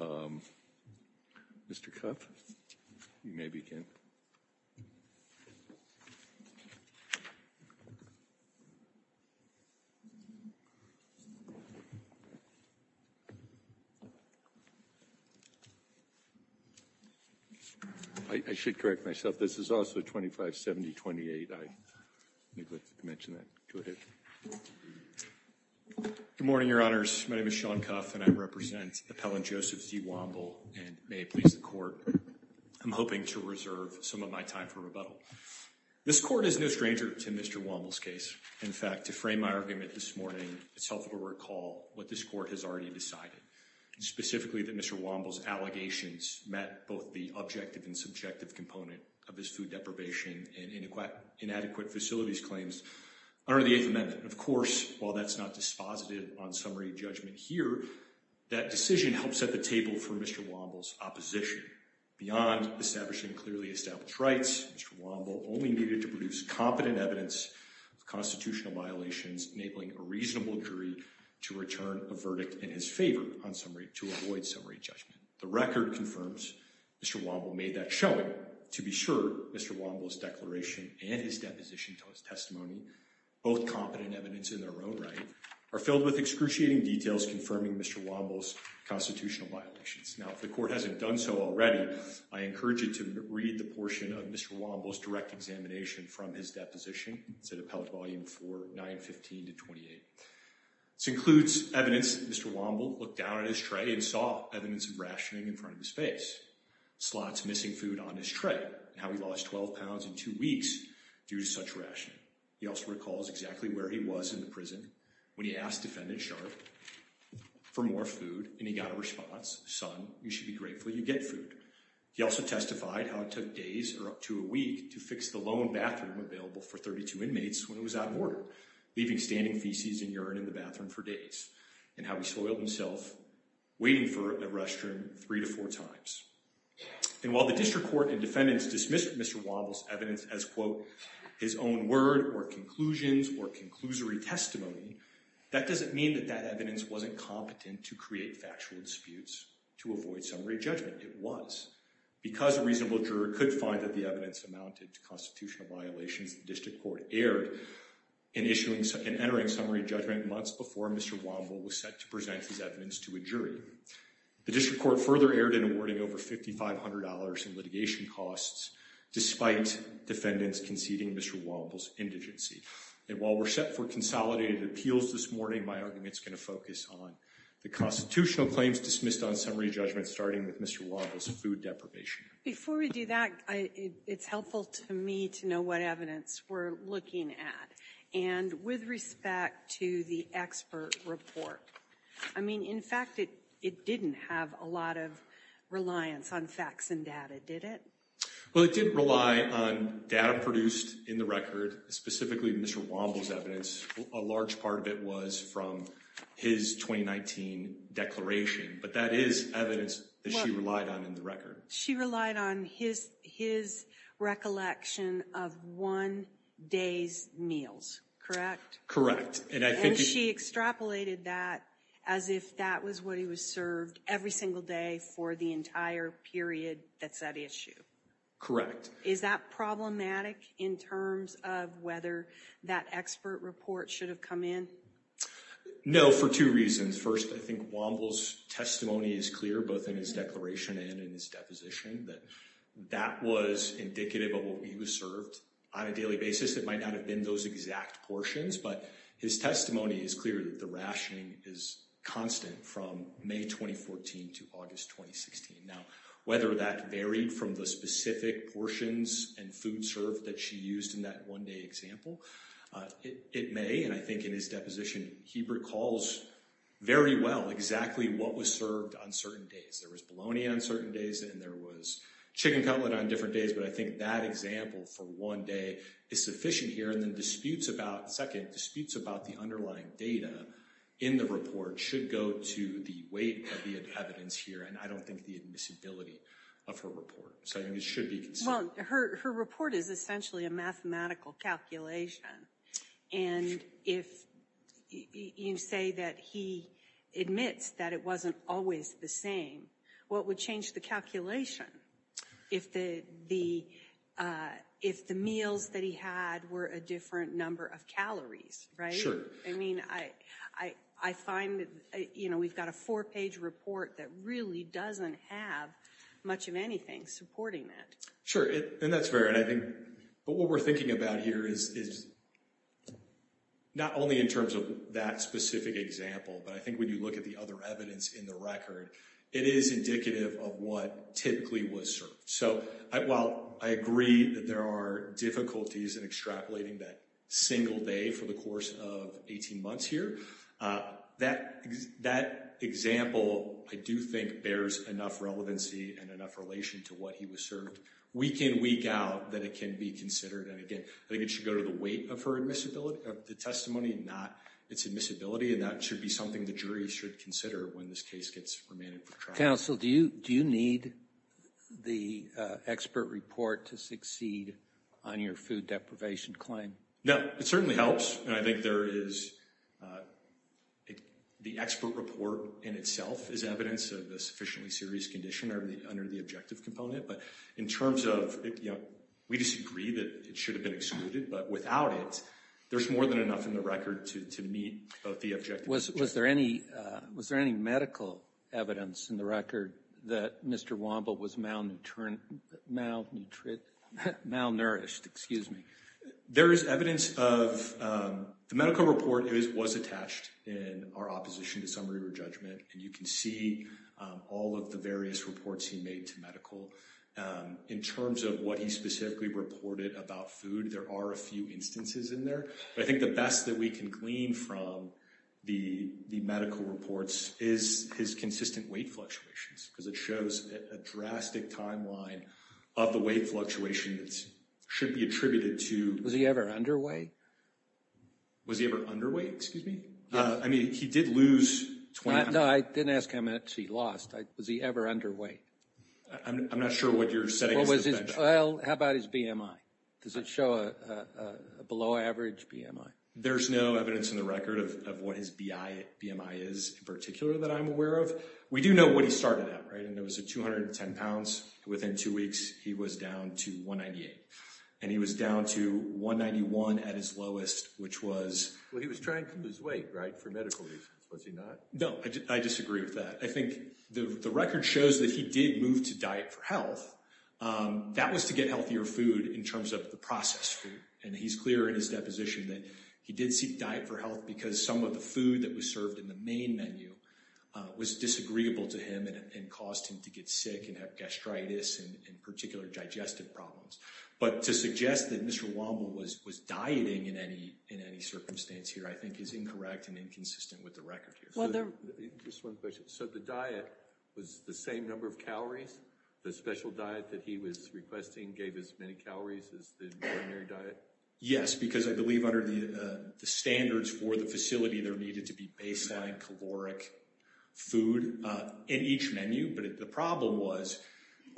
Um, Mr. Cuff, you may begin. I should correct myself. This is also 25-70-28. I neglected to mention that. Good morning, Your Honors. My name is Sean Cuff, and I represent Appellant Joseph Z. Womble. And may it please the Court, I'm hoping to reserve some of my time for rebuttal. This Court is no stranger to Mr. Womble's case. In fact, to frame my argument this morning, it's helpful to recall what this Court has already decided, specifically that Mr. Womble's allegations met both the objective and subjective component of his food deprivation and inadequate facilities claims under the Eighth Amendment. Of course, while that's not dispositive on summary judgment here, that decision helped set the table for Mr. Womble's opposition. Beyond establishing clearly established rights, Mr. Womble only needed to produce competent evidence of constitutional violations, enabling a reasonable jury to return a verdict in his favor on summary to avoid summary judgment. The record confirms Mr. Womble made that showing to be sure Mr. Womble's declaration and his deposition to his testimony, both competent evidence in their own right, are filled with excruciating details confirming Mr. Womble's constitutional violations. Now, if the Court hasn't done so already, I encourage you to read the portion of Mr. Womble's direct examination from his deposition. It's at Appellate Volume 4, 915 to 28. This includes evidence that Mr. Womble looked down at his tray and saw evidence of rationing in front of his face, slots missing food on his tray, and how he lost 12 pounds in two weeks due to such rationing. He also recalls exactly where he was in the prison when he asked Defendant Sharp for more food and he got a response, son, you should be grateful you get food. He also testified how it took days or up to a week to fix the lone bathroom available for 32 inmates when it was out of order, leaving standing feces and urine in the bathroom for days, and how he soiled himself waiting for a restroom three to four times. And while the District Court and defendants dismissed Mr. Womble's evidence as, quote, his own word or conclusions or conclusory testimony, that doesn't mean that that evidence wasn't competent to create factual disputes to avoid summary judgment. It was. Because a reasonable juror could find that the evidence amounted to constitutional violations, the District Court erred in issuing and entering summary judgment months before Mr. Womble was set to present his evidence to a jury. The District Court further erred in awarding over $5,500 in litigation costs, despite defendants conceding Mr. Womble's indigency. And while we're set for consolidated appeals this morning, my argument's gonna focus on the constitutional claims dismissed on summary judgment starting with Mr. Womble's food deprivation. Before we do that, it's helpful to me to know what evidence we're looking at. And with respect to the expert report, I mean, in fact, it didn't have a lot of reliance on facts and data, did it? Well, it didn't rely on data produced in the record, specifically Mr. Womble's evidence. A large part of it was from his 2019 declaration, but that is evidence that she relied on in the record. She relied on his recollection of one day's meals, correct? Correct. And she extrapolated that as if that was what he was served every single day for the entire period that's at issue. Correct. Is that problematic in terms of whether that expert report should have come in? No, for two reasons. First, I think Womble's testimony is clear, both in his declaration and in his deposition, that that was indicative of what he was served on a daily basis. It might not have been those exact portions, but his testimony is clear that the rationing is constant from May 2014 to August 2016. Now, whether that varied from the specific portions and food served that she used in that one day example, it may, and I think in his deposition, he recalls very well exactly what was served on certain days. There was bologna on certain days and there was chicken cutlet on different days, but I think that example for one day is sufficient here. And then disputes about, second, disputes about the underlying data in the report should go to the weight of the evidence here, and I don't think the admissibility of her report. So I think it should be considered. Well, her report is essentially a mathematical calculation, and if you say that he admits that it wasn't always the same, well, it would change the calculation. If the meals that he had were a different number of calories, right? I mean, I find that, you know, we've got a four-page report that really doesn't have much of anything supporting that. Sure, and that's fair, and I think, but what we're thinking about here is not only in terms of that specific example, but I think when you look at the other evidence in the record, it is indicative of what typically was served. So while I agree that there are difficulties in extrapolating that single day for the course of 18 months here, that example, I do think, bears enough relevancy and enough relation to what he was served. Week in, week out, that it can be considered, and again, I think it should go to the weight of her admissibility, of the testimony, not its admissibility, and that should be something the jury should consider when this case gets remanded for trial. Counsel, do you need the expert report to succeed on your food deprivation claim? No, it certainly helps, and I think there is, the expert report in itself is evidence of a sufficiently serious condition under the objective component, but in terms of, you know, we disagree that it should have been excluded, but without it, there's more than enough in the record to meet both the objective and objective. Was there any medical evidence in the record that Mr. Womble was malnutrition, malnutrition, malnourished, excuse me? There is evidence of, the medical report was attached in our opposition to summary or judgment, and you can see all of the various reports he made to medical. In terms of what he specifically reported about food, there are a few instances in there, but I think the best that we can glean from the medical reports is his consistent weight fluctuations, because it shows a drastic timeline of the weight fluctuation that should be attributed to. Was he ever underweight? Was he ever underweight, excuse me? I mean, he did lose 20 pounds. No, I didn't ask how much he lost. Was he ever underweight? I'm not sure what you're setting as a benchmark. How about his BMI? Does it show a below average BMI? There's no evidence in the record of what his BMI is in particular that I'm aware of. We do know what he started at, right? And it was at 210 pounds. Within two weeks, he was down to 198. And he was down to 191 at his lowest, which was- Well, he was trying to lose weight, right? For medical reasons, was he not? No, I disagree with that. I think the record shows that he did move to diet for health. That was to get healthier food in terms of the processed food and he's clear in his deposition that he did seek diet for health because some of the food that was served in the main menu was disagreeable to him and caused him to get sick and have gastritis and particular digestive problems. But to suggest that Mr. Womble was dieting in any circumstance here, I think is incorrect and inconsistent with the record here. Well, there- Just one question. So the diet was the same number of calories? The special diet that he was requesting gave as many calories as the ordinary diet? Yes, because I believe under the standards for the facility, there needed to be baseline caloric food in each menu, but the problem was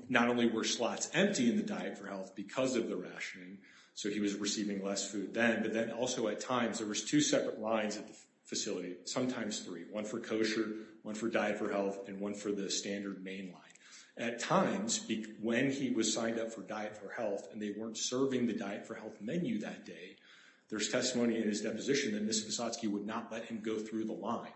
not only were slots empty in the diet for health because of the rationing, so he was receiving less food then, but then also at times, there was two separate lines at the facility, sometimes three, one for kosher, one for diet for health, and one for the standard main line. At times, when he was signed up for diet for health and they weren't serving the diet for health menu that day, there's testimony in his deposition that Mr. Kosatsky would not let him go through the line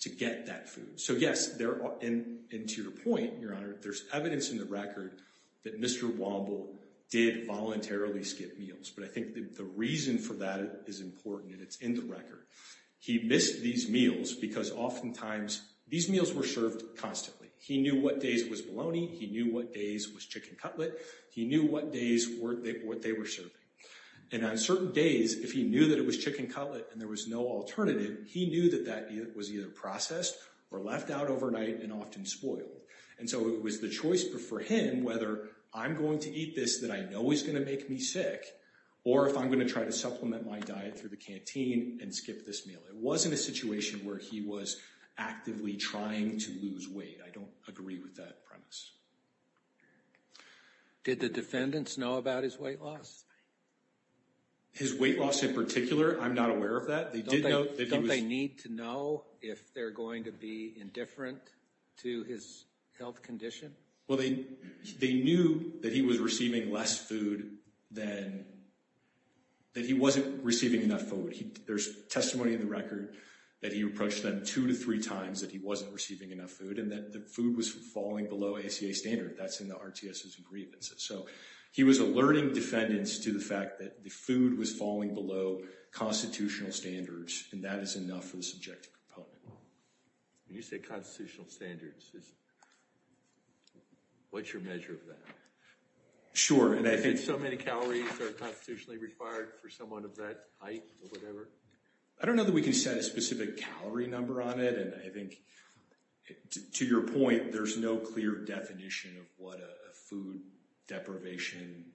to get that food. So yes, and to your point, Your Honor, there's evidence in the record that Mr. Womble did voluntarily skip meals, but I think that the reason for that is important and it's in the record. He missed these meals because oftentimes, these meals were served constantly. He knew what days was bologna, he knew what days was chicken cutlet, he knew what days what they were serving. And on certain days, if he knew that it was chicken cutlet and there was no alternative, he knew that that was either processed or left out overnight and often spoiled. And so it was the choice for him whether I'm going to eat this that I know is gonna make me sick or if I'm gonna try to supplement my diet through the canteen and skip this meal. It wasn't a situation where he was actively trying to lose weight. I don't agree with that premise. Did the defendants know about his weight loss? His weight loss in particular, I'm not aware of that. They did know that he was- Don't they need to know if they're going to be indifferent to his health condition? Well, they knew that he was receiving less food than that he wasn't receiving enough food. There's testimony in the record that he approached them two to three times that he wasn't receiving enough food and that the food was falling below ACA standard. That's in the RTS's agreements. So he was alerting defendants to the fact that the food was falling below constitutional standards and that is enough for the subjective component. When you say constitutional standards, what's your measure of that? Sure, and I think- If so many calories are constitutionally required for someone of that height or whatever? I don't know that we can set a specific calorie number on it. And I think, to your point, there's no clear definition of what a food deprivation,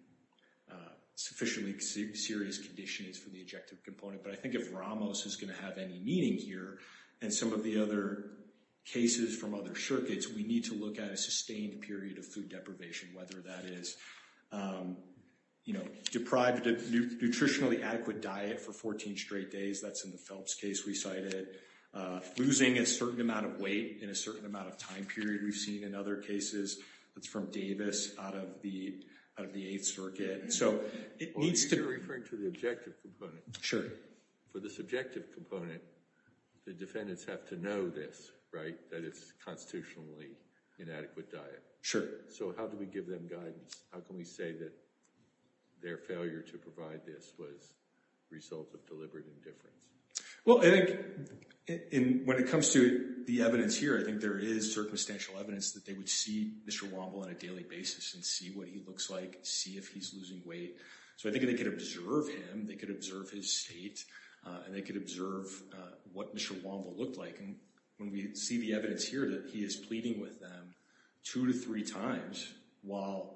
sufficiently serious condition is for the objective component. But I think if Ramos is going to have any meaning here and some of the other cases from other circuits, we need to look at a sustained period of food deprivation, whether that is, you know, deprived of nutritionally adequate diet for 14 straight days. That's in the Phelps case we cited. Losing a certain amount of weight in a certain amount of time period we've seen in other cases. That's from Davis out of the Eighth Circuit. So it needs to- Oh, you're referring to the objective component. Sure. For the subjective component, the defendants have to know this, right? That it's constitutionally inadequate diet. Sure. So how do we give them guidance? How can we say that their failure to provide this was a result of deliberate indifference? Well, I think when it comes to the evidence here, I think there is circumstantial evidence that they would see Mr. Womble on a daily basis and see what he looks like, see if he's losing weight. So I think if they could observe him, they could observe his state and they could observe what Mr. Womble looked like. And when we see the evidence here that he is pleading with them two to three times while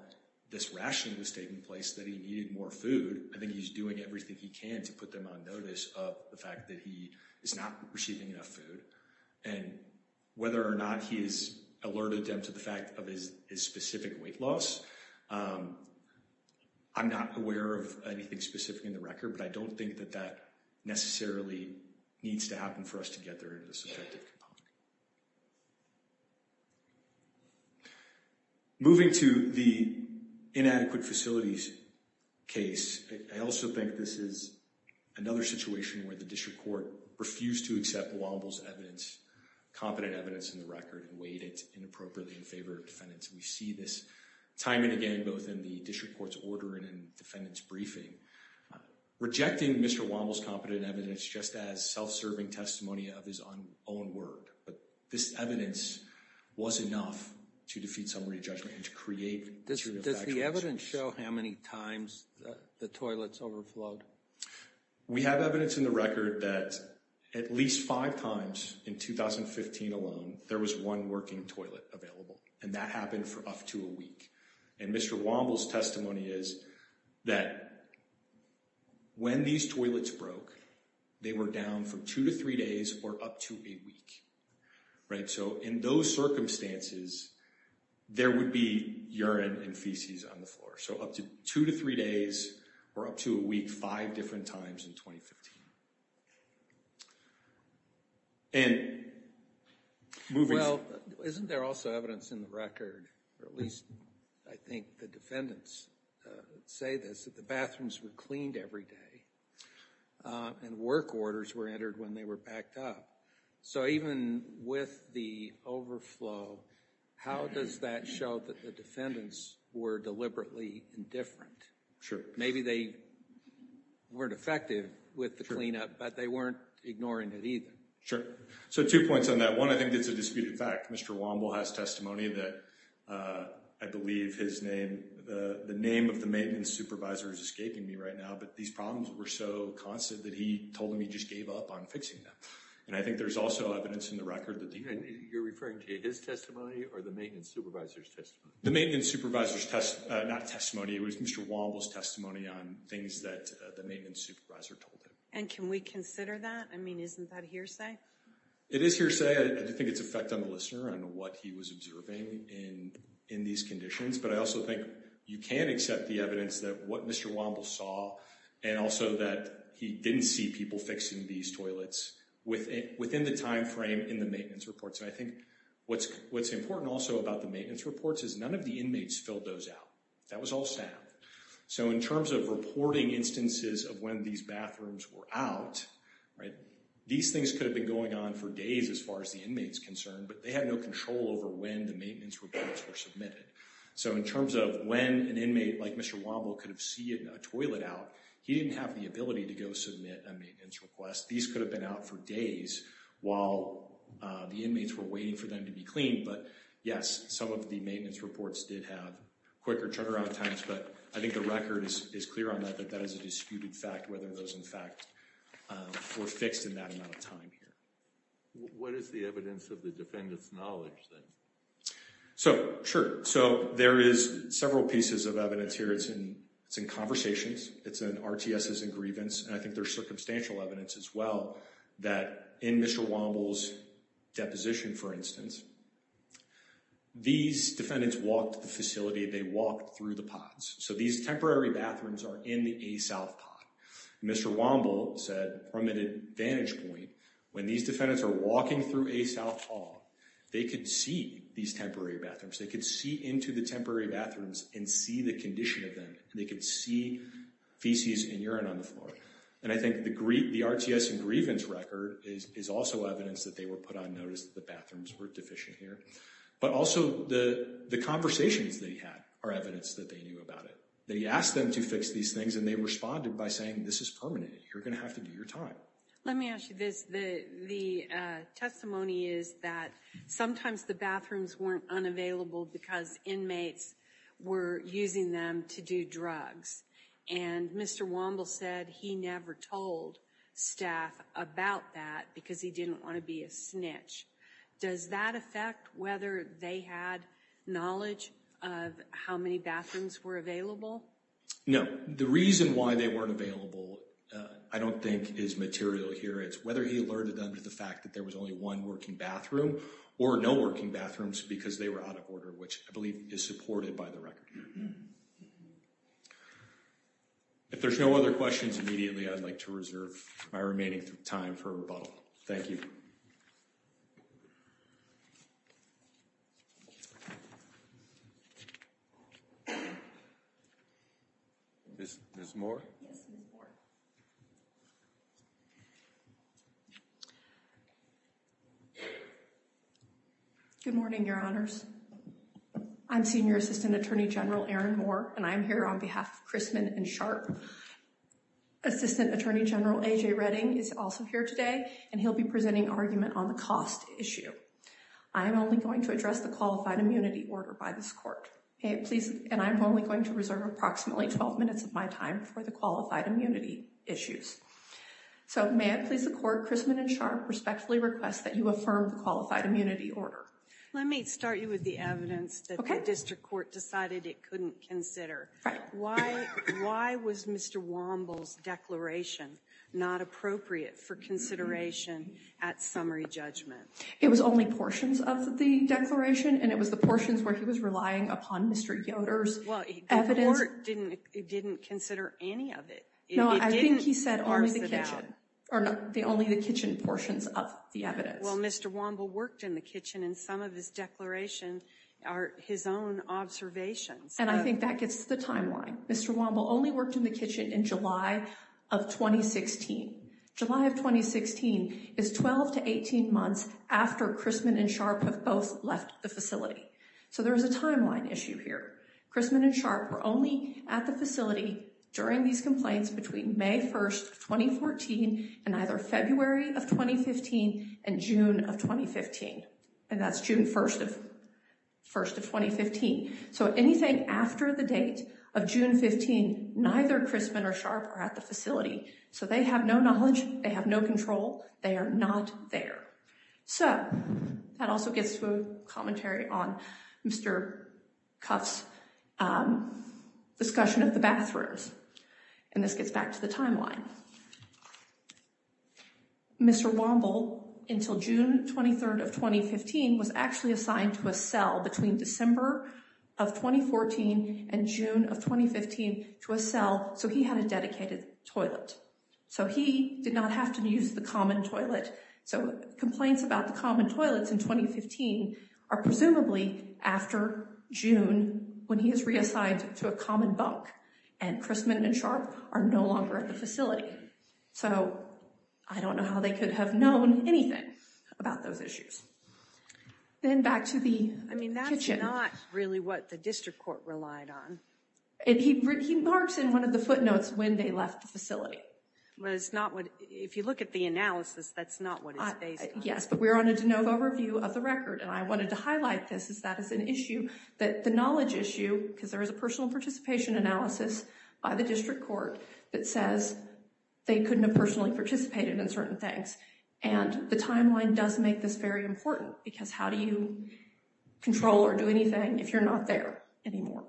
this rationing was taking place that he needed more food, I think he's doing everything he can to put them on notice of the fact that he is not receiving enough food. And whether or not he has alerted them to the fact of his specific weight loss, I'm not aware of anything specific in the record, but I don't think that that necessarily needs to happen for us to get there in the subjective component. Moving to the inadequate facilities case, I also think this is another situation where the district court refused to accept Womble's evidence, competent evidence in the record and weighed it inappropriately in favor of defendants. We see this time and again, both in the district court's order and in defendants' briefing. Rejecting Mr. Womble's competent evidence just as self-serving testimony of his own word, but this evidence was enough to defeat summary judgment and to create material factual evidence. Does the evidence show how many times the toilets overflowed? We have evidence in the record that at least five times in 2015 alone, there was one working toilet available, and that happened for up to a week. And Mr. Womble's testimony is that when these toilets broke, they were down from two to three days or up to a week. Right, so in those circumstances, there would be urine and feces on the floor. So up to two to three days or up to a week, five different times in 2015. And moving- Well, isn't there also evidence in the record, or at least I think the defendants say this, that the bathrooms were cleaned every day and work orders were entered when they were backed up. So even with the overflow, how does that show that the defendants were deliberately indifferent? Maybe they weren't effective with the cleanup, but they weren't ignoring it either. Sure. So two points on that. One, I think it's a disputed fact. Mr. Womble has testimony that I believe his name, the name of the maintenance supervisor is escaping me right now, but these problems were so constant that he told them he just gave up on fixing them. And I think there's also evidence in the record that- You're referring to his testimony or the maintenance supervisor's testimony? The maintenance supervisor's testimony, not testimony, it was Mr. Womble's testimony on things that the maintenance supervisor told him. And can we consider that? I mean, isn't that hearsay? It is hearsay. I do think it's effect on the listener and what he was observing in these conditions. But I also think you can accept the evidence that what Mr. Womble saw and also that he didn't see people fixing these toilets within the timeframe in the maintenance reports. And I think what's important also about the maintenance reports is none of the inmates filled those out. That was all staff. So in terms of reporting instances of when these bathrooms were out, these things could have been going on for days as far as the inmate's concerned, but they had no control over when the maintenance reports were submitted. So in terms of when an inmate like Mr. Womble could have seen a toilet out, he didn't have the ability to go submit a maintenance request. These could have been out for days while the inmates were waiting for them to be cleaned. But yes, some of the maintenance reports did have quicker turnaround times, but I think the record is clear on that, that that is a disputed fact, whether those in fact were fixed in that amount of time here. What is the evidence of the defendant's knowledge then? So, sure. So there is several pieces of evidence here. It's in conversations. It's in RTSs and grievance. And I think there's circumstantial evidence as well that in Mr. Womble's deposition, for instance, these defendants walked the facility, they walked through the pods. So these temporary bathrooms are in the A-South pod. Mr. Womble said from an advantage point, when these defendants are walking through A-South Hall, they could see these temporary bathrooms. They could see into the temporary bathrooms and see the condition of them. They could see feces and urine on the floor. And I think the RTS and grievance record is also evidence that they were put on notice that the bathrooms were deficient here. But also the conversations that he had are evidence that they knew about it, that he asked them to fix these things and they responded by saying, this is permanent. You're gonna have to do your time. Let me ask you this. The testimony is that sometimes the bathrooms weren't unavailable because inmates were using them to do drugs. And Mr. Womble said he never told staff about that because he didn't wanna be a snitch. Does that affect whether they had knowledge of how many bathrooms were available? No, the reason why they weren't available, I don't think is material here. It's whether he alerted them to the fact that there was only one working bathroom or no working bathrooms because they were out of order, which I believe is supported by the record. If there's no other questions immediately, I'd like to reserve my remaining time for rebuttal. Thank you. Ms. Moore? Yes, Ms. Moore. Good morning, your honors. I'm Senior Assistant Attorney General Erin Moore and I'm here on behalf of Chrisman and Sharp. Assistant Attorney General AJ Redding is also here today and he'll be presenting argument on the cost issue. I am only going to address the qualified immunity order by this court. And I'm only going to reserve approximately 12 minutes of my time for the qualified immunity issues. So may I please the court, Chrisman and Sharp respectfully request that you affirm the qualified immunity order. Let me start you with the evidence that the district court decided it couldn't consider. Why was Mr. Womble's declaration not appropriate for consideration at summary judgment? It was only portions of the declaration and it was the portions where he was relying upon Mr. Yoder's evidence. Well, the court didn't consider any of it. No, I think he said only the kitchen. Or only the kitchen portions of the evidence. Well, Mr. Womble worked in the kitchen and some of his declaration are his own observations. And I think that gets to the timeline. Mr. Womble only worked in the kitchen in July of 2016. July of 2016 is 12 to 18 months after Chrisman and Sharp have both left the facility. So there's a timeline issue here. Chrisman and Sharp were only at the facility during these complaints between May 1st, 2014 and either February of 2015 and June of 2015. And that's June 1st of 2015. So anything after the date of June 15, neither Chrisman or Sharp are at the facility. So they have no knowledge, they have no control. They are not there. So that also gets to a commentary on Mr. Cuff's discussion of the bathrooms. And this gets back to the timeline. Now, Mr. Womble, until June 23rd of 2015, was actually assigned to a cell between December of 2014 and June of 2015 to a cell. So he had a dedicated toilet. So he did not have to use the common toilet. So complaints about the common toilets in 2015 are presumably after June when he is reassigned to a common bunk. And Chrisman and Sharp are no longer at the facility. So I don't know how they could have known anything about those issues. Then back to the kitchen. I mean, that's not really what the district court relied on. And he marks in one of the footnotes when they left the facility. But it's not what, if you look at the analysis, that's not what it's based on. Yes, but we're on a de novo review of the record. And I wanted to highlight this as that is an issue that the knowledge issue, because there is a personal participation analysis by the district court that says they couldn't have personally participated in certain things. And the timeline does make this very important because how do you control or do anything if you're not there anymore?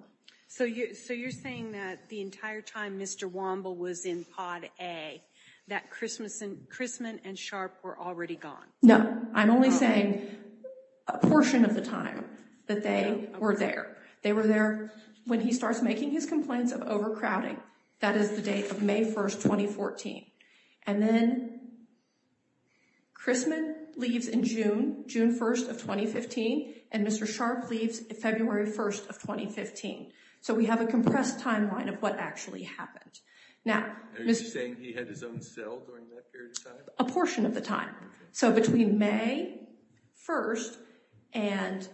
So you're saying that the entire time Mr. Womble was in pod A, that Chrisman and Sharp were already gone? No, I'm only saying a portion of the time that they were there. They were there when he starts making his complaints of overcrowding. That is the date of May 1st, 2014. And then Chrisman leaves in June, June 1st of 2015, and Mr. Sharp leaves February 1st of 2015. So we have a compressed timeline of what actually happened. Now- Are you saying he had his own cell during that period of time? A portion of the time. So between May 1st and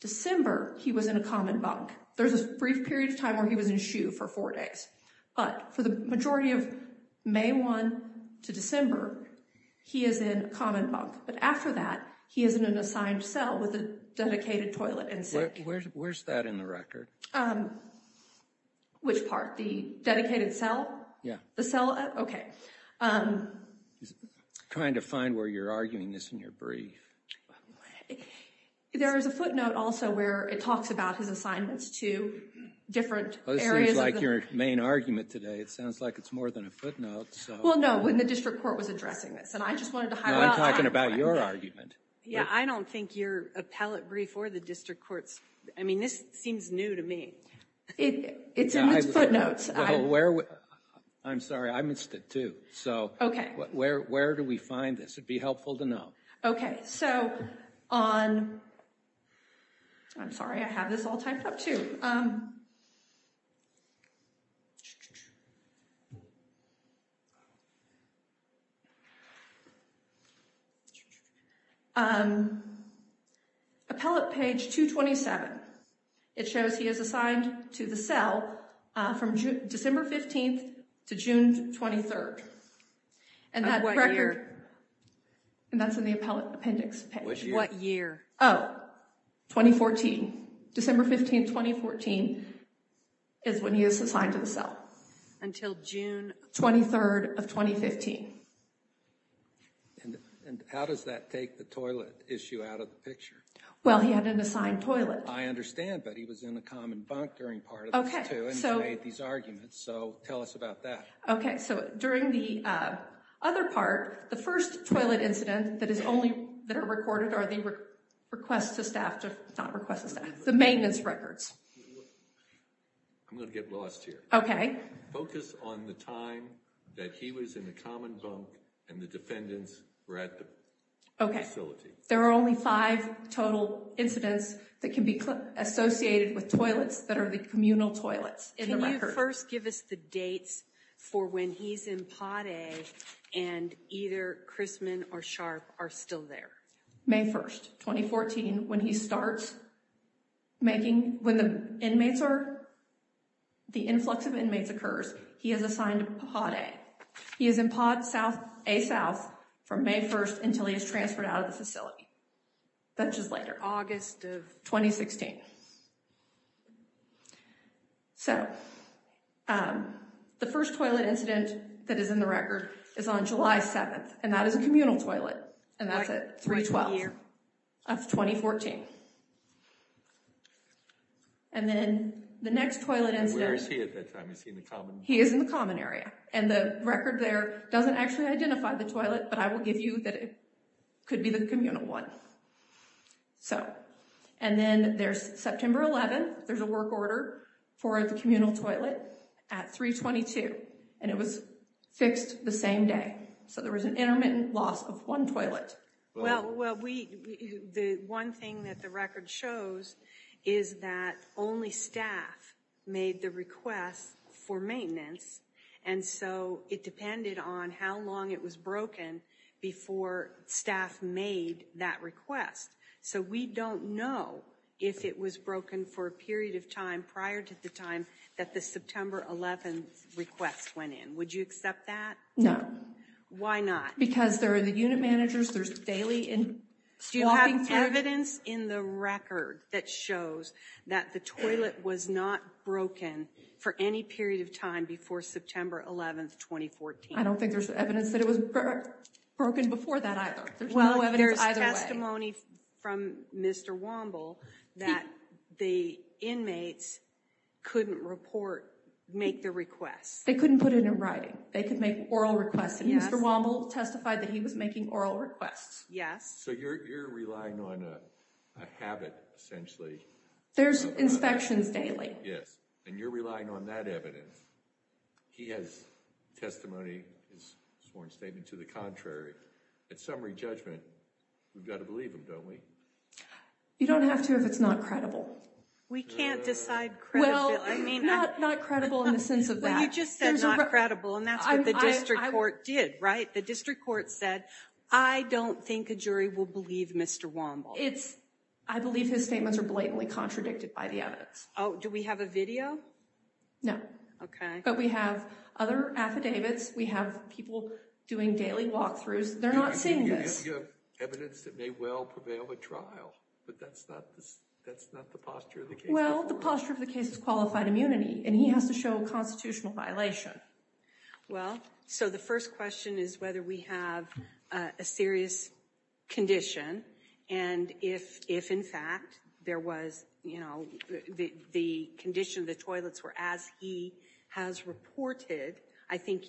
December, he was in a common bunk. There's a brief period of time where he was in SHU for four days. But for the majority of May 1 to December, he is in a common bunk. But after that, he is in an assigned cell with a dedicated toilet and sink. Where's that in the record? Which part, the dedicated cell? Yeah. The cell, okay. Trying to find where you're arguing this in your brief. There is a footnote also where it talks about his assignments to different areas of the- Well, this seems like your main argument today. It sounds like it's more than a footnote, so- Well, no, when the district court was addressing this. And I just wanted to highlight- No, I'm talking about your argument. Yeah, I don't think your appellate brief or the district court's, I mean, this seems new to me. It's in his footnotes. Well, where, I'm sorry, I missed it too. So where do we find this? It'd be helpful to know. Okay, so on, I'm sorry, I have this all typed up too. Appellate page 227. It shows he is assigned to the cell from December 15th to June 23rd. And that record- I'm right here. And that's in the appellate appendix page. What year? Oh, 2014. December 15th, 2014 is when he is assigned to the cell. Until June- 23rd of 2015. And how does that take the toilet issue out of the picture? Well, he had an assigned toilet. I understand, but he was in a common bunk during part of this too, and he made these arguments, so tell us about that. Okay, so during the other part, the first toilet incident that are recorded are the request to staff, not request to staff, the maintenance records. I'm gonna get lost here. Okay. Focus on the time that he was in the common bunk and the defendants were at the facility. Okay, there are only five total incidents that can be associated with toilets that are the communal toilets in the record. Can you first give us the dates for when he's in potty and either Chrisman or Sharp are still there? May 1st, 2014, when he starts making, when the inmates are, the influx of inmates occurs, he is assigned potty. He is in pot A South from May 1st until he is transferred out of the facility. That's just later. August of- Okay. So, the first toilet incident that is in the record is on July 7th, and that is a communal toilet, and that's at 312. That's 2014. And then the next toilet incident- Where is he at that time? Is he in the common? He is in the common area, and the record there doesn't actually identify the toilet, but I will give you that it could be the communal one. So, and then there's September 11th. There's a work order for the communal toilet at 322, and it was fixed the same day. So there was an intermittent loss of one toilet. Well, the one thing that the record shows is that only staff made the request for maintenance, and so it depended on how long it was broken before staff made that request. So we don't know if it was broken for a period of time prior to the time that the September 11th request went in. Would you accept that? No. Why not? Because there are the unit managers, there's daily swapping- Do you have evidence in the record that shows that the toilet was not broken for any period of time before September 11th, 2014? I don't think there's evidence that it was broken before that either. There's no evidence either way. Well, there's testimony from Mr. Womble that the inmates couldn't report, make the request. They couldn't put it in writing. They could make oral requests, and Mr. Womble testified that he was making oral requests. Yes. So you're relying on a habit, essentially. There's inspections daily. Yes, and you're relying on that evidence. He has testimony, his sworn statement to the contrary. At summary judgment, we've got to believe him, don't we? You don't have to if it's not credible. We can't decide credibility. Well, not credible in the sense of that. Well, you just said not credible, and that's what the district court did, right? The district court said, I don't think a jury will believe Mr. Womble. I believe his statements are blatantly contradicted by the evidence. Oh, do we have a video? No. Okay. But we have other affidavits. We have people doing daily walkthroughs. They're not seeing this. You have evidence that may well prevail at trial, but that's not the posture of the case. Well, the posture of the case is qualified immunity, and he has to show a constitutional violation. Well, so the first question is whether we have a serious condition, and if, in fact, there was the condition of the toilets were as he has reported, I think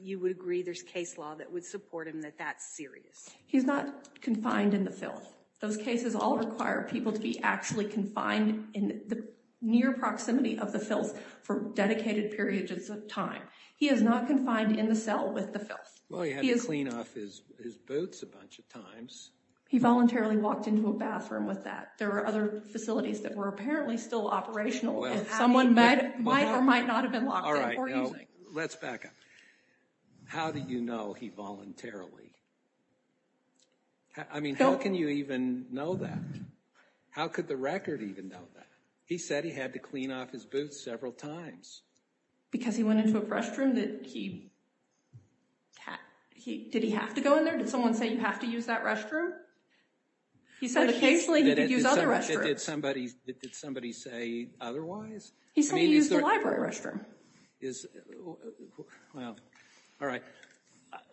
you would agree there's case law that would support him that that's serious. He's not confined in the filth. Those cases all require people to be actually confined in the near proximity of the filth for dedicated periods of time. He is not confined in the cell with the filth. Well, he had to clean off his boots a bunch of times. He voluntarily walked into a bathroom with that. There were other facilities that were apparently still operational, and someone might or might not have been locked in. All right, now, let's back up. How do you know he voluntarily? I mean, how can you even know that? How could the record even know that? He said he had to clean off his boots several times. Because he went into a restroom that he, did he have to go in there? Did someone say you have to use that restroom? He said occasionally he could use other restrooms. Did somebody say otherwise? He said he used the library restroom. Well, all right.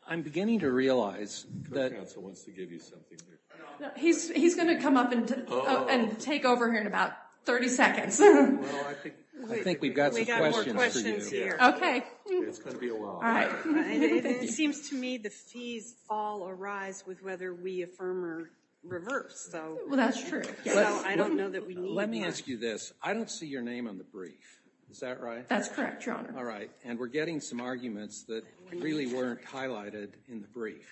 I'm beginning to realize that. The council wants to give you something here. He's gonna come up and take over here in about 30 seconds. Well, I think we've got some questions for you. It's gonna be a while. All right. It seems to me the fees all arise with whether we affirm or reverse, though. Well, that's true. I don't know that we need that. Let me ask you this. I don't see your name on the brief. Is that right? That's correct, Your Honor. All right, and we're getting some arguments that really weren't highlighted in the brief.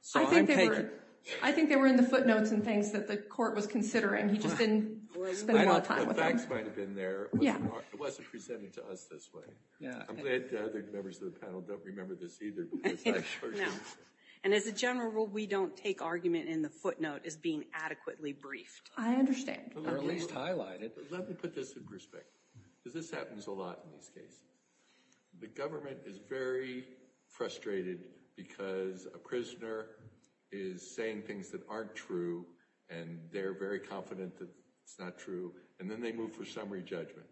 So I'm taking it. I think they were in the footnotes and things that the court was considering. He just didn't spend a lot of time with them. The facts might have been there. Yeah. It wasn't presented to us this way. Yeah. I'm glad the other members of the panel don't remember this either, because I sure do. And as a general rule, we don't take argument in the footnote as being adequately briefed. I understand. Or at least highlight it. Let me put this in perspective, because this happens a lot in these cases. The government is very frustrated because a prisoner is saying things that aren't true, and they're very confident that it's not true, and then they move for summary judgment.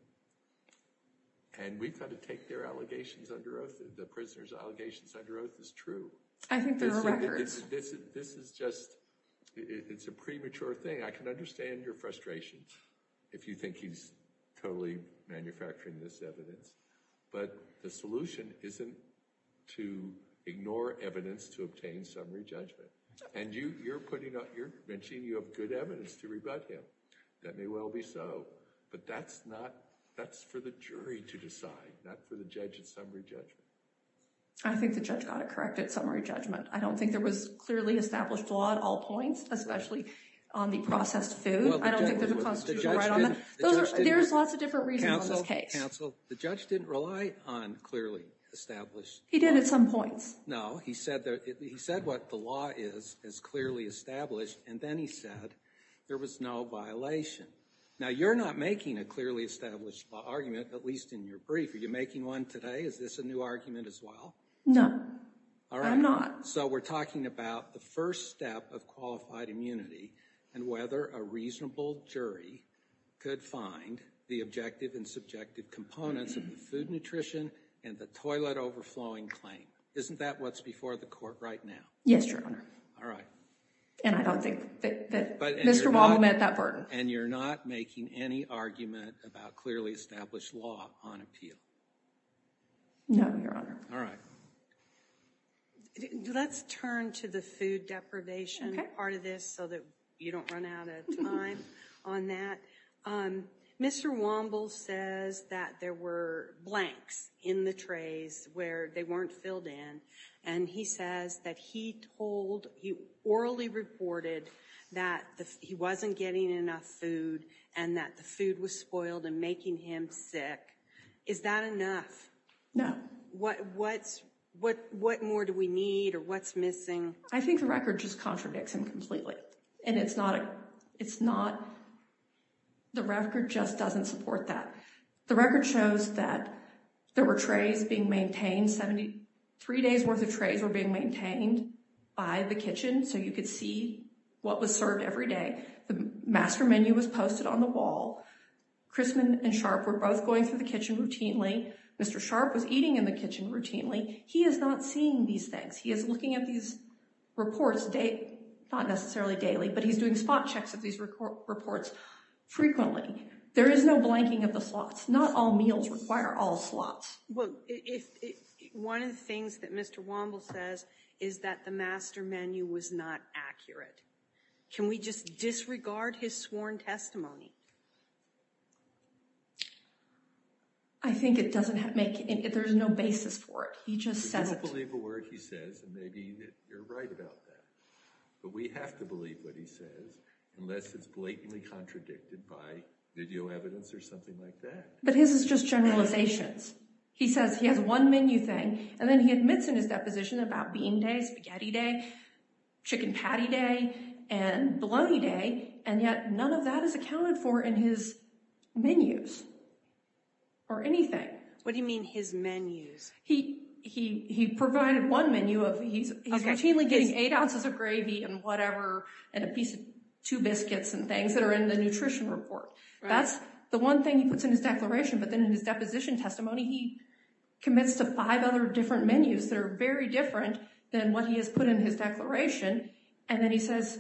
And we've got to take their allegations under oath. The prisoner's allegations under oath is true. I think there are records. This is just, it's a premature thing. I can understand your frustration if you think he's totally manufacturing this evidence, but the solution isn't to ignore evidence to obtain summary judgment. And you're putting out, you're mentioning you have good evidence to rebut him. That may well be so, but that's not, that's for the jury to decide, not for the judge at summary judgment. I think the judge got it correct at summary judgment. I don't think there was clearly established law at all points, especially on the processed food. I don't think there's a constitutional right on that. There's lots of different reasons on this case. Counsel, counsel, the judge didn't rely on clearly established law. He did at some points. No, he said what the law is is clearly established, and then he said there was no violation. Now, you're not making a clearly established law argument, at least in your brief. Are you making one today? Is this a new argument as well? No, I'm not. So we're talking about the first step of qualified immunity and whether a reasonable jury could find the objective and subjective components of the food and nutrition and the toilet overflowing claim. Isn't that what's before the court right now? Yes, Your Honor. All right. And I don't think that Mr. Waddle met that burden. And you're not making any argument about clearly established law on appeal? No, Your Honor. All right. Let's turn to the food deprivation part of this so that you don't run out of time on that. Mr. Waddle says that there were blanks in the trays where they weren't filled in. And he says that he told, he orally reported, that he wasn't getting enough food and that the food was spoiled and making him sick. Is that enough? No. What more do we need or what's missing? I think the record just contradicts him completely. And it's not, the record just doesn't support that. The record shows that there were trays being maintained, 73 days worth of trays were being maintained by the kitchen so you could see what was served every day. The master menu was posted on the wall. Chrisman and Sharp were both going through the kitchen routinely. Mr. Sharp was eating in the kitchen routinely. He is not seeing these things. He is looking at these reports, not necessarily daily, but he's doing spot checks of these reports frequently. There is no blanking of the slots. Not all meals require all slots. Well, one of the things that Mr. Waddle says is that the master menu was not accurate. Can we just disregard his sworn testimony? I think it doesn't make, there's no basis for it. He just says it. We don't believe a word he says and maybe you're right about that. But we have to believe what he says unless it's blatantly contradicted by video evidence or something like that. But his is just generalizations. He says he has one menu thing and then he admits in his deposition about bean day, spaghetti day, chicken patty day, and bologna day, and yet none of that is accounted for. And his menus or anything. What do you mean his menus? He provided one menu of, he's routinely getting eight ounces of gravy and whatever and a piece of two biscuits and things that are in the nutrition report. That's the one thing he puts in his declaration. But then in his deposition testimony, he commits to five other different menus that are very different than what he has put in his declaration. And then he says,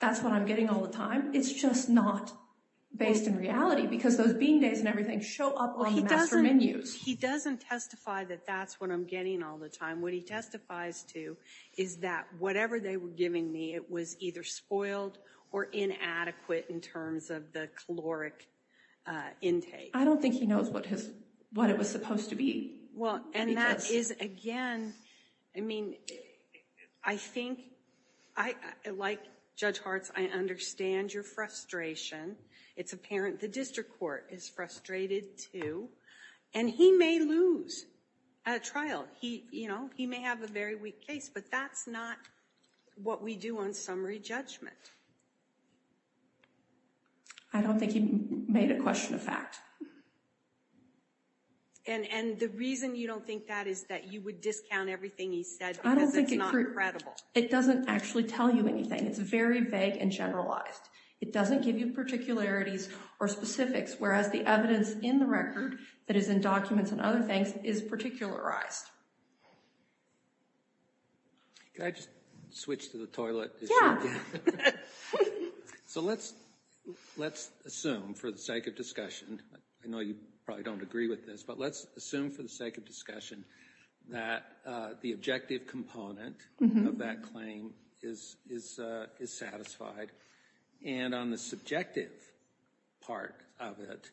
that's what I'm getting all the time. It's just not based in reality because those bean days and everything show up on the master menus. He doesn't testify that that's what I'm getting all the time. What he testifies to is that whatever they were giving me, it was either spoiled or inadequate in terms of the caloric intake. I don't think he knows what it was supposed to be. Well, and that is again, I mean, I think, like Judge Hartz, I understand your frustration. It's apparent the district court is frustrated too. And he may lose at a trial. He may have a very weak case, but that's not what we do on summary judgment. I don't think he made a question of fact. And the reason you don't think that is that you would discount everything he said because it's not credible. It doesn't actually tell you anything. And it's very vague and generalized. It doesn't give you particularities or specifics, whereas the evidence in the record that is in documents and other things is particularized. Can I just switch to the toilet? Yeah. So let's assume for the sake of discussion, I know you probably don't agree with this, but let's assume for the sake of discussion that the objective component of that claim is satisfied. And on the subjective part of it,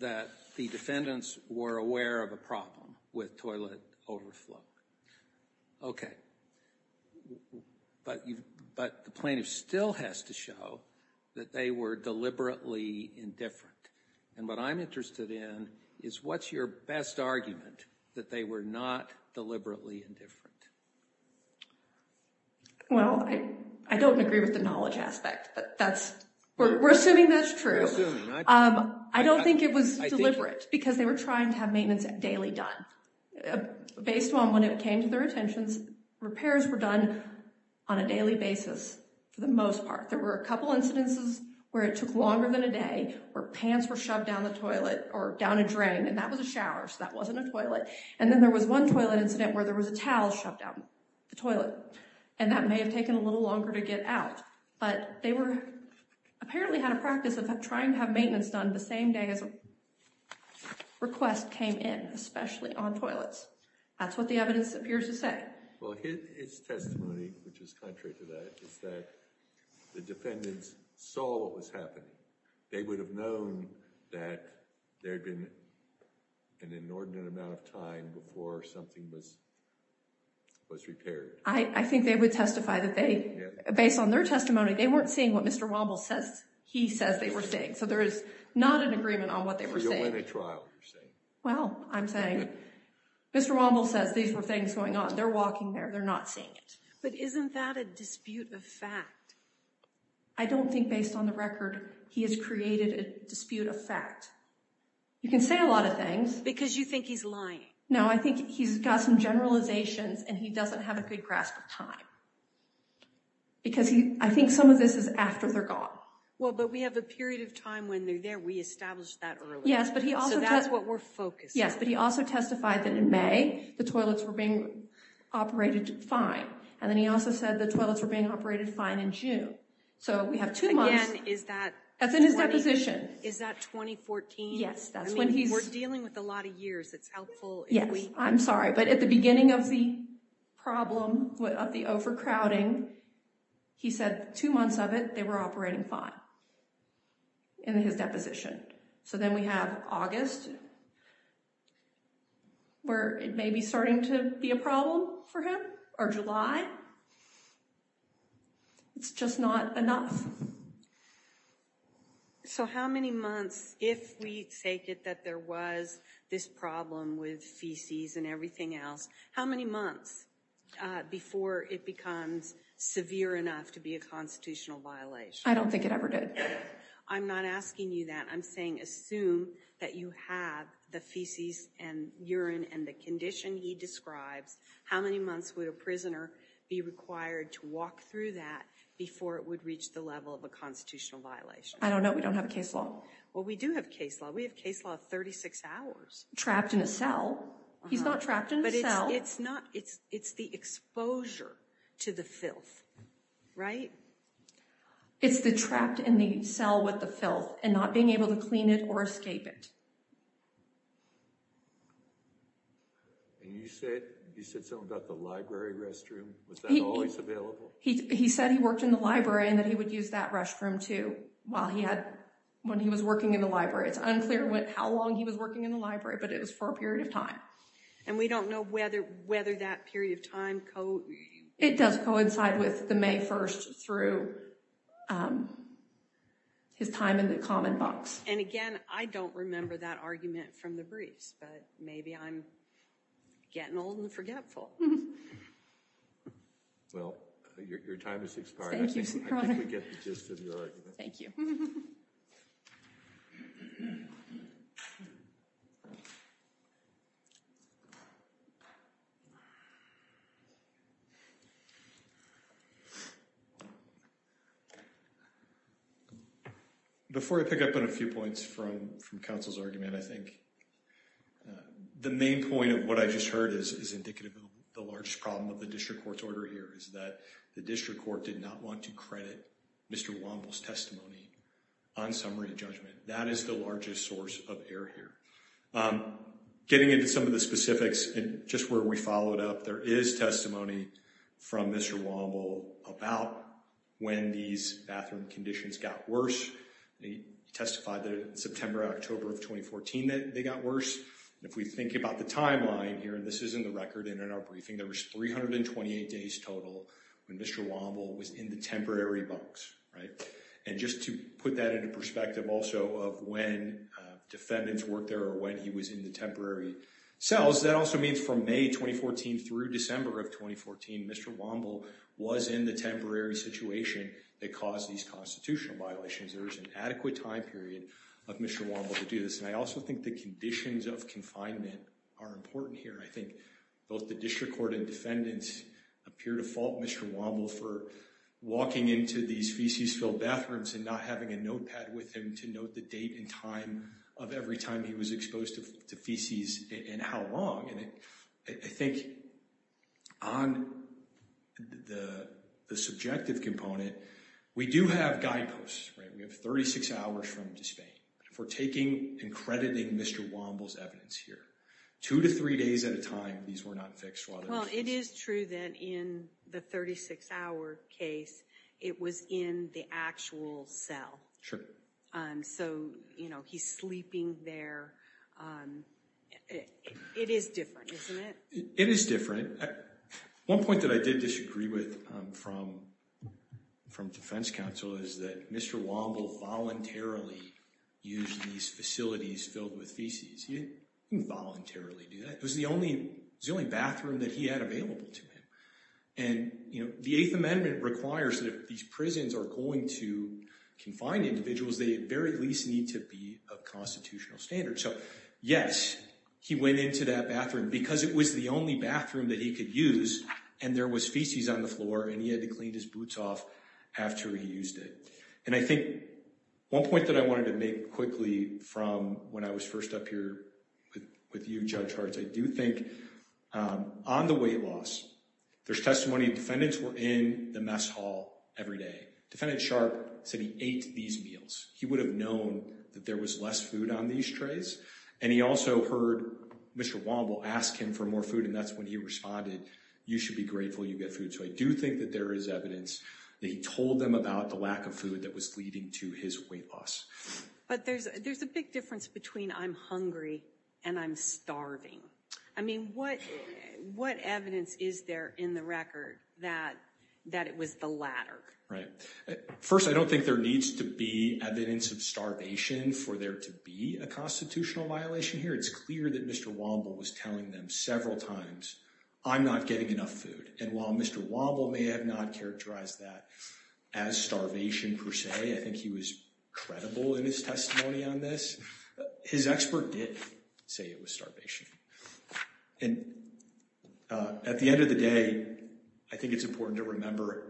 that the defendants were aware of a problem with toilet overflow. Okay. But the plaintiff still has to show that they were deliberately indifferent. And what I'm interested in is what's your best argument that they were not deliberately indifferent? Well, I don't agree with the knowledge aspect, but that's, we're assuming that's true. I don't think it was deliberate because they were trying to have maintenance daily done. Based on when it came to their attentions, repairs were done on a daily basis for the most part. There were a couple of incidences where it took longer than a day, where pants were shoved down the toilet or down a drain, and that was a shower, so that wasn't a toilet. And then there was one toilet incident where there was a towel shoved down the drain, or a towel was shoved down the toilet, and that may have taken a little longer to get out. But they were, apparently had a practice of trying to have maintenance done the same day as a request came in, especially on toilets. That's what the evidence appears to say. Well, his testimony, which is contrary to that, is that the defendants saw what was happening. They would have known that there had been an inordinate amount of time before something was repaired. I think they would testify that they, based on their testimony, they weren't seeing what Mr. Womble says he says they were seeing. So there is not an agreement on what they were seeing. So you'll win a trial, you're saying. Well, I'm saying, Mr. Womble says these were things going on. They're walking there, they're not seeing it. But isn't that a dispute of fact? I don't think, based on the record, he has created a dispute of fact. You can say a lot of things. Because you think he's lying. No, I think he's got some generalizations and he doesn't have a good grasp of time. Because I think some of this is after they're gone. Well, but we have a period of time when they're there. We established that earlier. Yes, but he also testified. So that's what we're focused on. Yes, but he also testified that in May, the toilets were being operated fine. And then he also said the toilets were being operated fine in June. So we have two months. Again, is that? That's in his deposition. Is that 2014? Yes, that's when he's. I mean, we're dealing with a lot of years. Yes, I'm sorry. But at the beginning of the problem, of the overcrowding, he said two months of it, they were operating fine in his deposition. So then we have August, where it may be starting to be a problem for him. Or July. It's just not enough. So how many months, if we take it that there was this problem with feces and everything else, how many months before it becomes severe enough to be a constitutional violation? I don't think it ever did. I'm not asking you that. I'm saying assume that you have the feces and urine and the condition he describes. How many months would a prisoner be required to walk through that before it would reach the level of a constitutional violation? I don't know. We don't have a case law. Well, we do have case law. We have case law of 36 hours. Trapped in a cell. He's not trapped in a cell. It's the exposure to the filth, right? It's the trapped in the cell with the filth and not being able to clean it or escape it. And you said something about the library restroom. Was that always available? He said he worked in the library and that he would use that restroom, too, while he had, when he was working in the library. It's unclear how long he was working in the library, but it was for a period of time. And we don't know whether that period of time co... It does coincide with the May 1st through his time in the common box. And again, I don't remember that argument from the briefs, but maybe I'm getting old and forgetful. Well, your time has expired. Thank you, Your Honor. I think we get the gist of your argument. Thank you. Thank you. Before I pick up on a few points from counsel's argument, I think the main point of what I just heard is indicative of the largest problem of the district court's order here is that the district court did not want to credit Mr. Womble's testimony on summary to judgment. That is the largest source of error here. Getting into some of the specifics, and just where we followed up, there is testimony from Mr. Womble about when these bathroom conditions got worse. They testified that in September, October of 2014 that they got worse. If we think about the timeline here, and this is in the record and in our briefing, there was 328 days total when Mr. Womble was in the temporary box, right? And just to put that into perspective also of when defendants worked there or when he was in the temporary cells, that also means from May 2014 through December of 2014, Mr. Womble was in the temporary situation that caused these constitutional violations. There was an adequate time period of Mr. Womble to do this. And I also think the conditions of confinement are important here. I think both the district court and defendants appear to fault Mr. Womble for walking into these feces-filled bathrooms and not having a notepad with him to note the date and time of every time he was exposed to feces and how long. And I think on the subjective component, we do have guideposts, right? We have 36 hours from disdain for taking and crediting Mr. Womble's evidence here. Two to three days at a time, these were not fixed while they were in existence. Well, it is true that in the 36-hour case, it was in the actual cell. Sure. So, you know, he's sleeping there. It is different, isn't it? It is different. One point that I did disagree with from defense counsel is that Mr. Womble voluntarily used these facilities filled with feces. He didn't voluntarily do that. It was the only bathroom that he had available to him. And, you know, the Eighth Amendment requires that if these prisons are going to confine individuals, they at the very least need to be a constitutional standard. So, yes, he went into that bathroom because it was the only bathroom that he could use and there was feces on the floor and he had to clean his boots off after he used it. And I think one point that I wanted to make quickly from when I was first up here with you, Judge Harts, I do think on the weight loss, there's testimony of defendants who were in the mess hall every day. Defendant Sharp said he ate these meals. He would have known that there was less food on these trays and he also heard Mr. Womble ask him for more food and that's when he responded, you should be grateful you get food. So, I do think that there is evidence that he told them about the lack of food that was leading to his weight loss. But there's a big difference between I'm hungry and I'm starving. I mean, what evidence is there in the record that it was the latter? Right. First, I don't think there needs to be evidence of starvation for there to be a constitutional violation here. It's clear that Mr. Womble was telling them several times, I'm not getting enough food. And while Mr. Womble may have not characterized that as starvation per se, I think he was credible in his testimony on this, his expert did say it was starvation. And at the end of the day, I think it's important to remember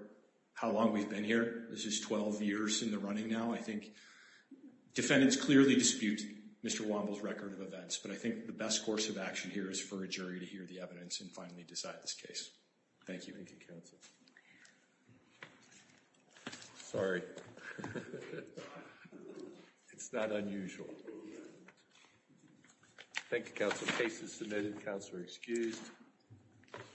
how long we've been here. This is 12 years in the running now. I think defendants clearly dispute Mr. Womble's record of events, but I think the best course of action here is for a jury to hear the evidence and finally decide this case. Thank you. Thank you, counsel. Sorry. Sorry. It's not unusual. Thank you, counsel. Case is submitted. Counsel are excused.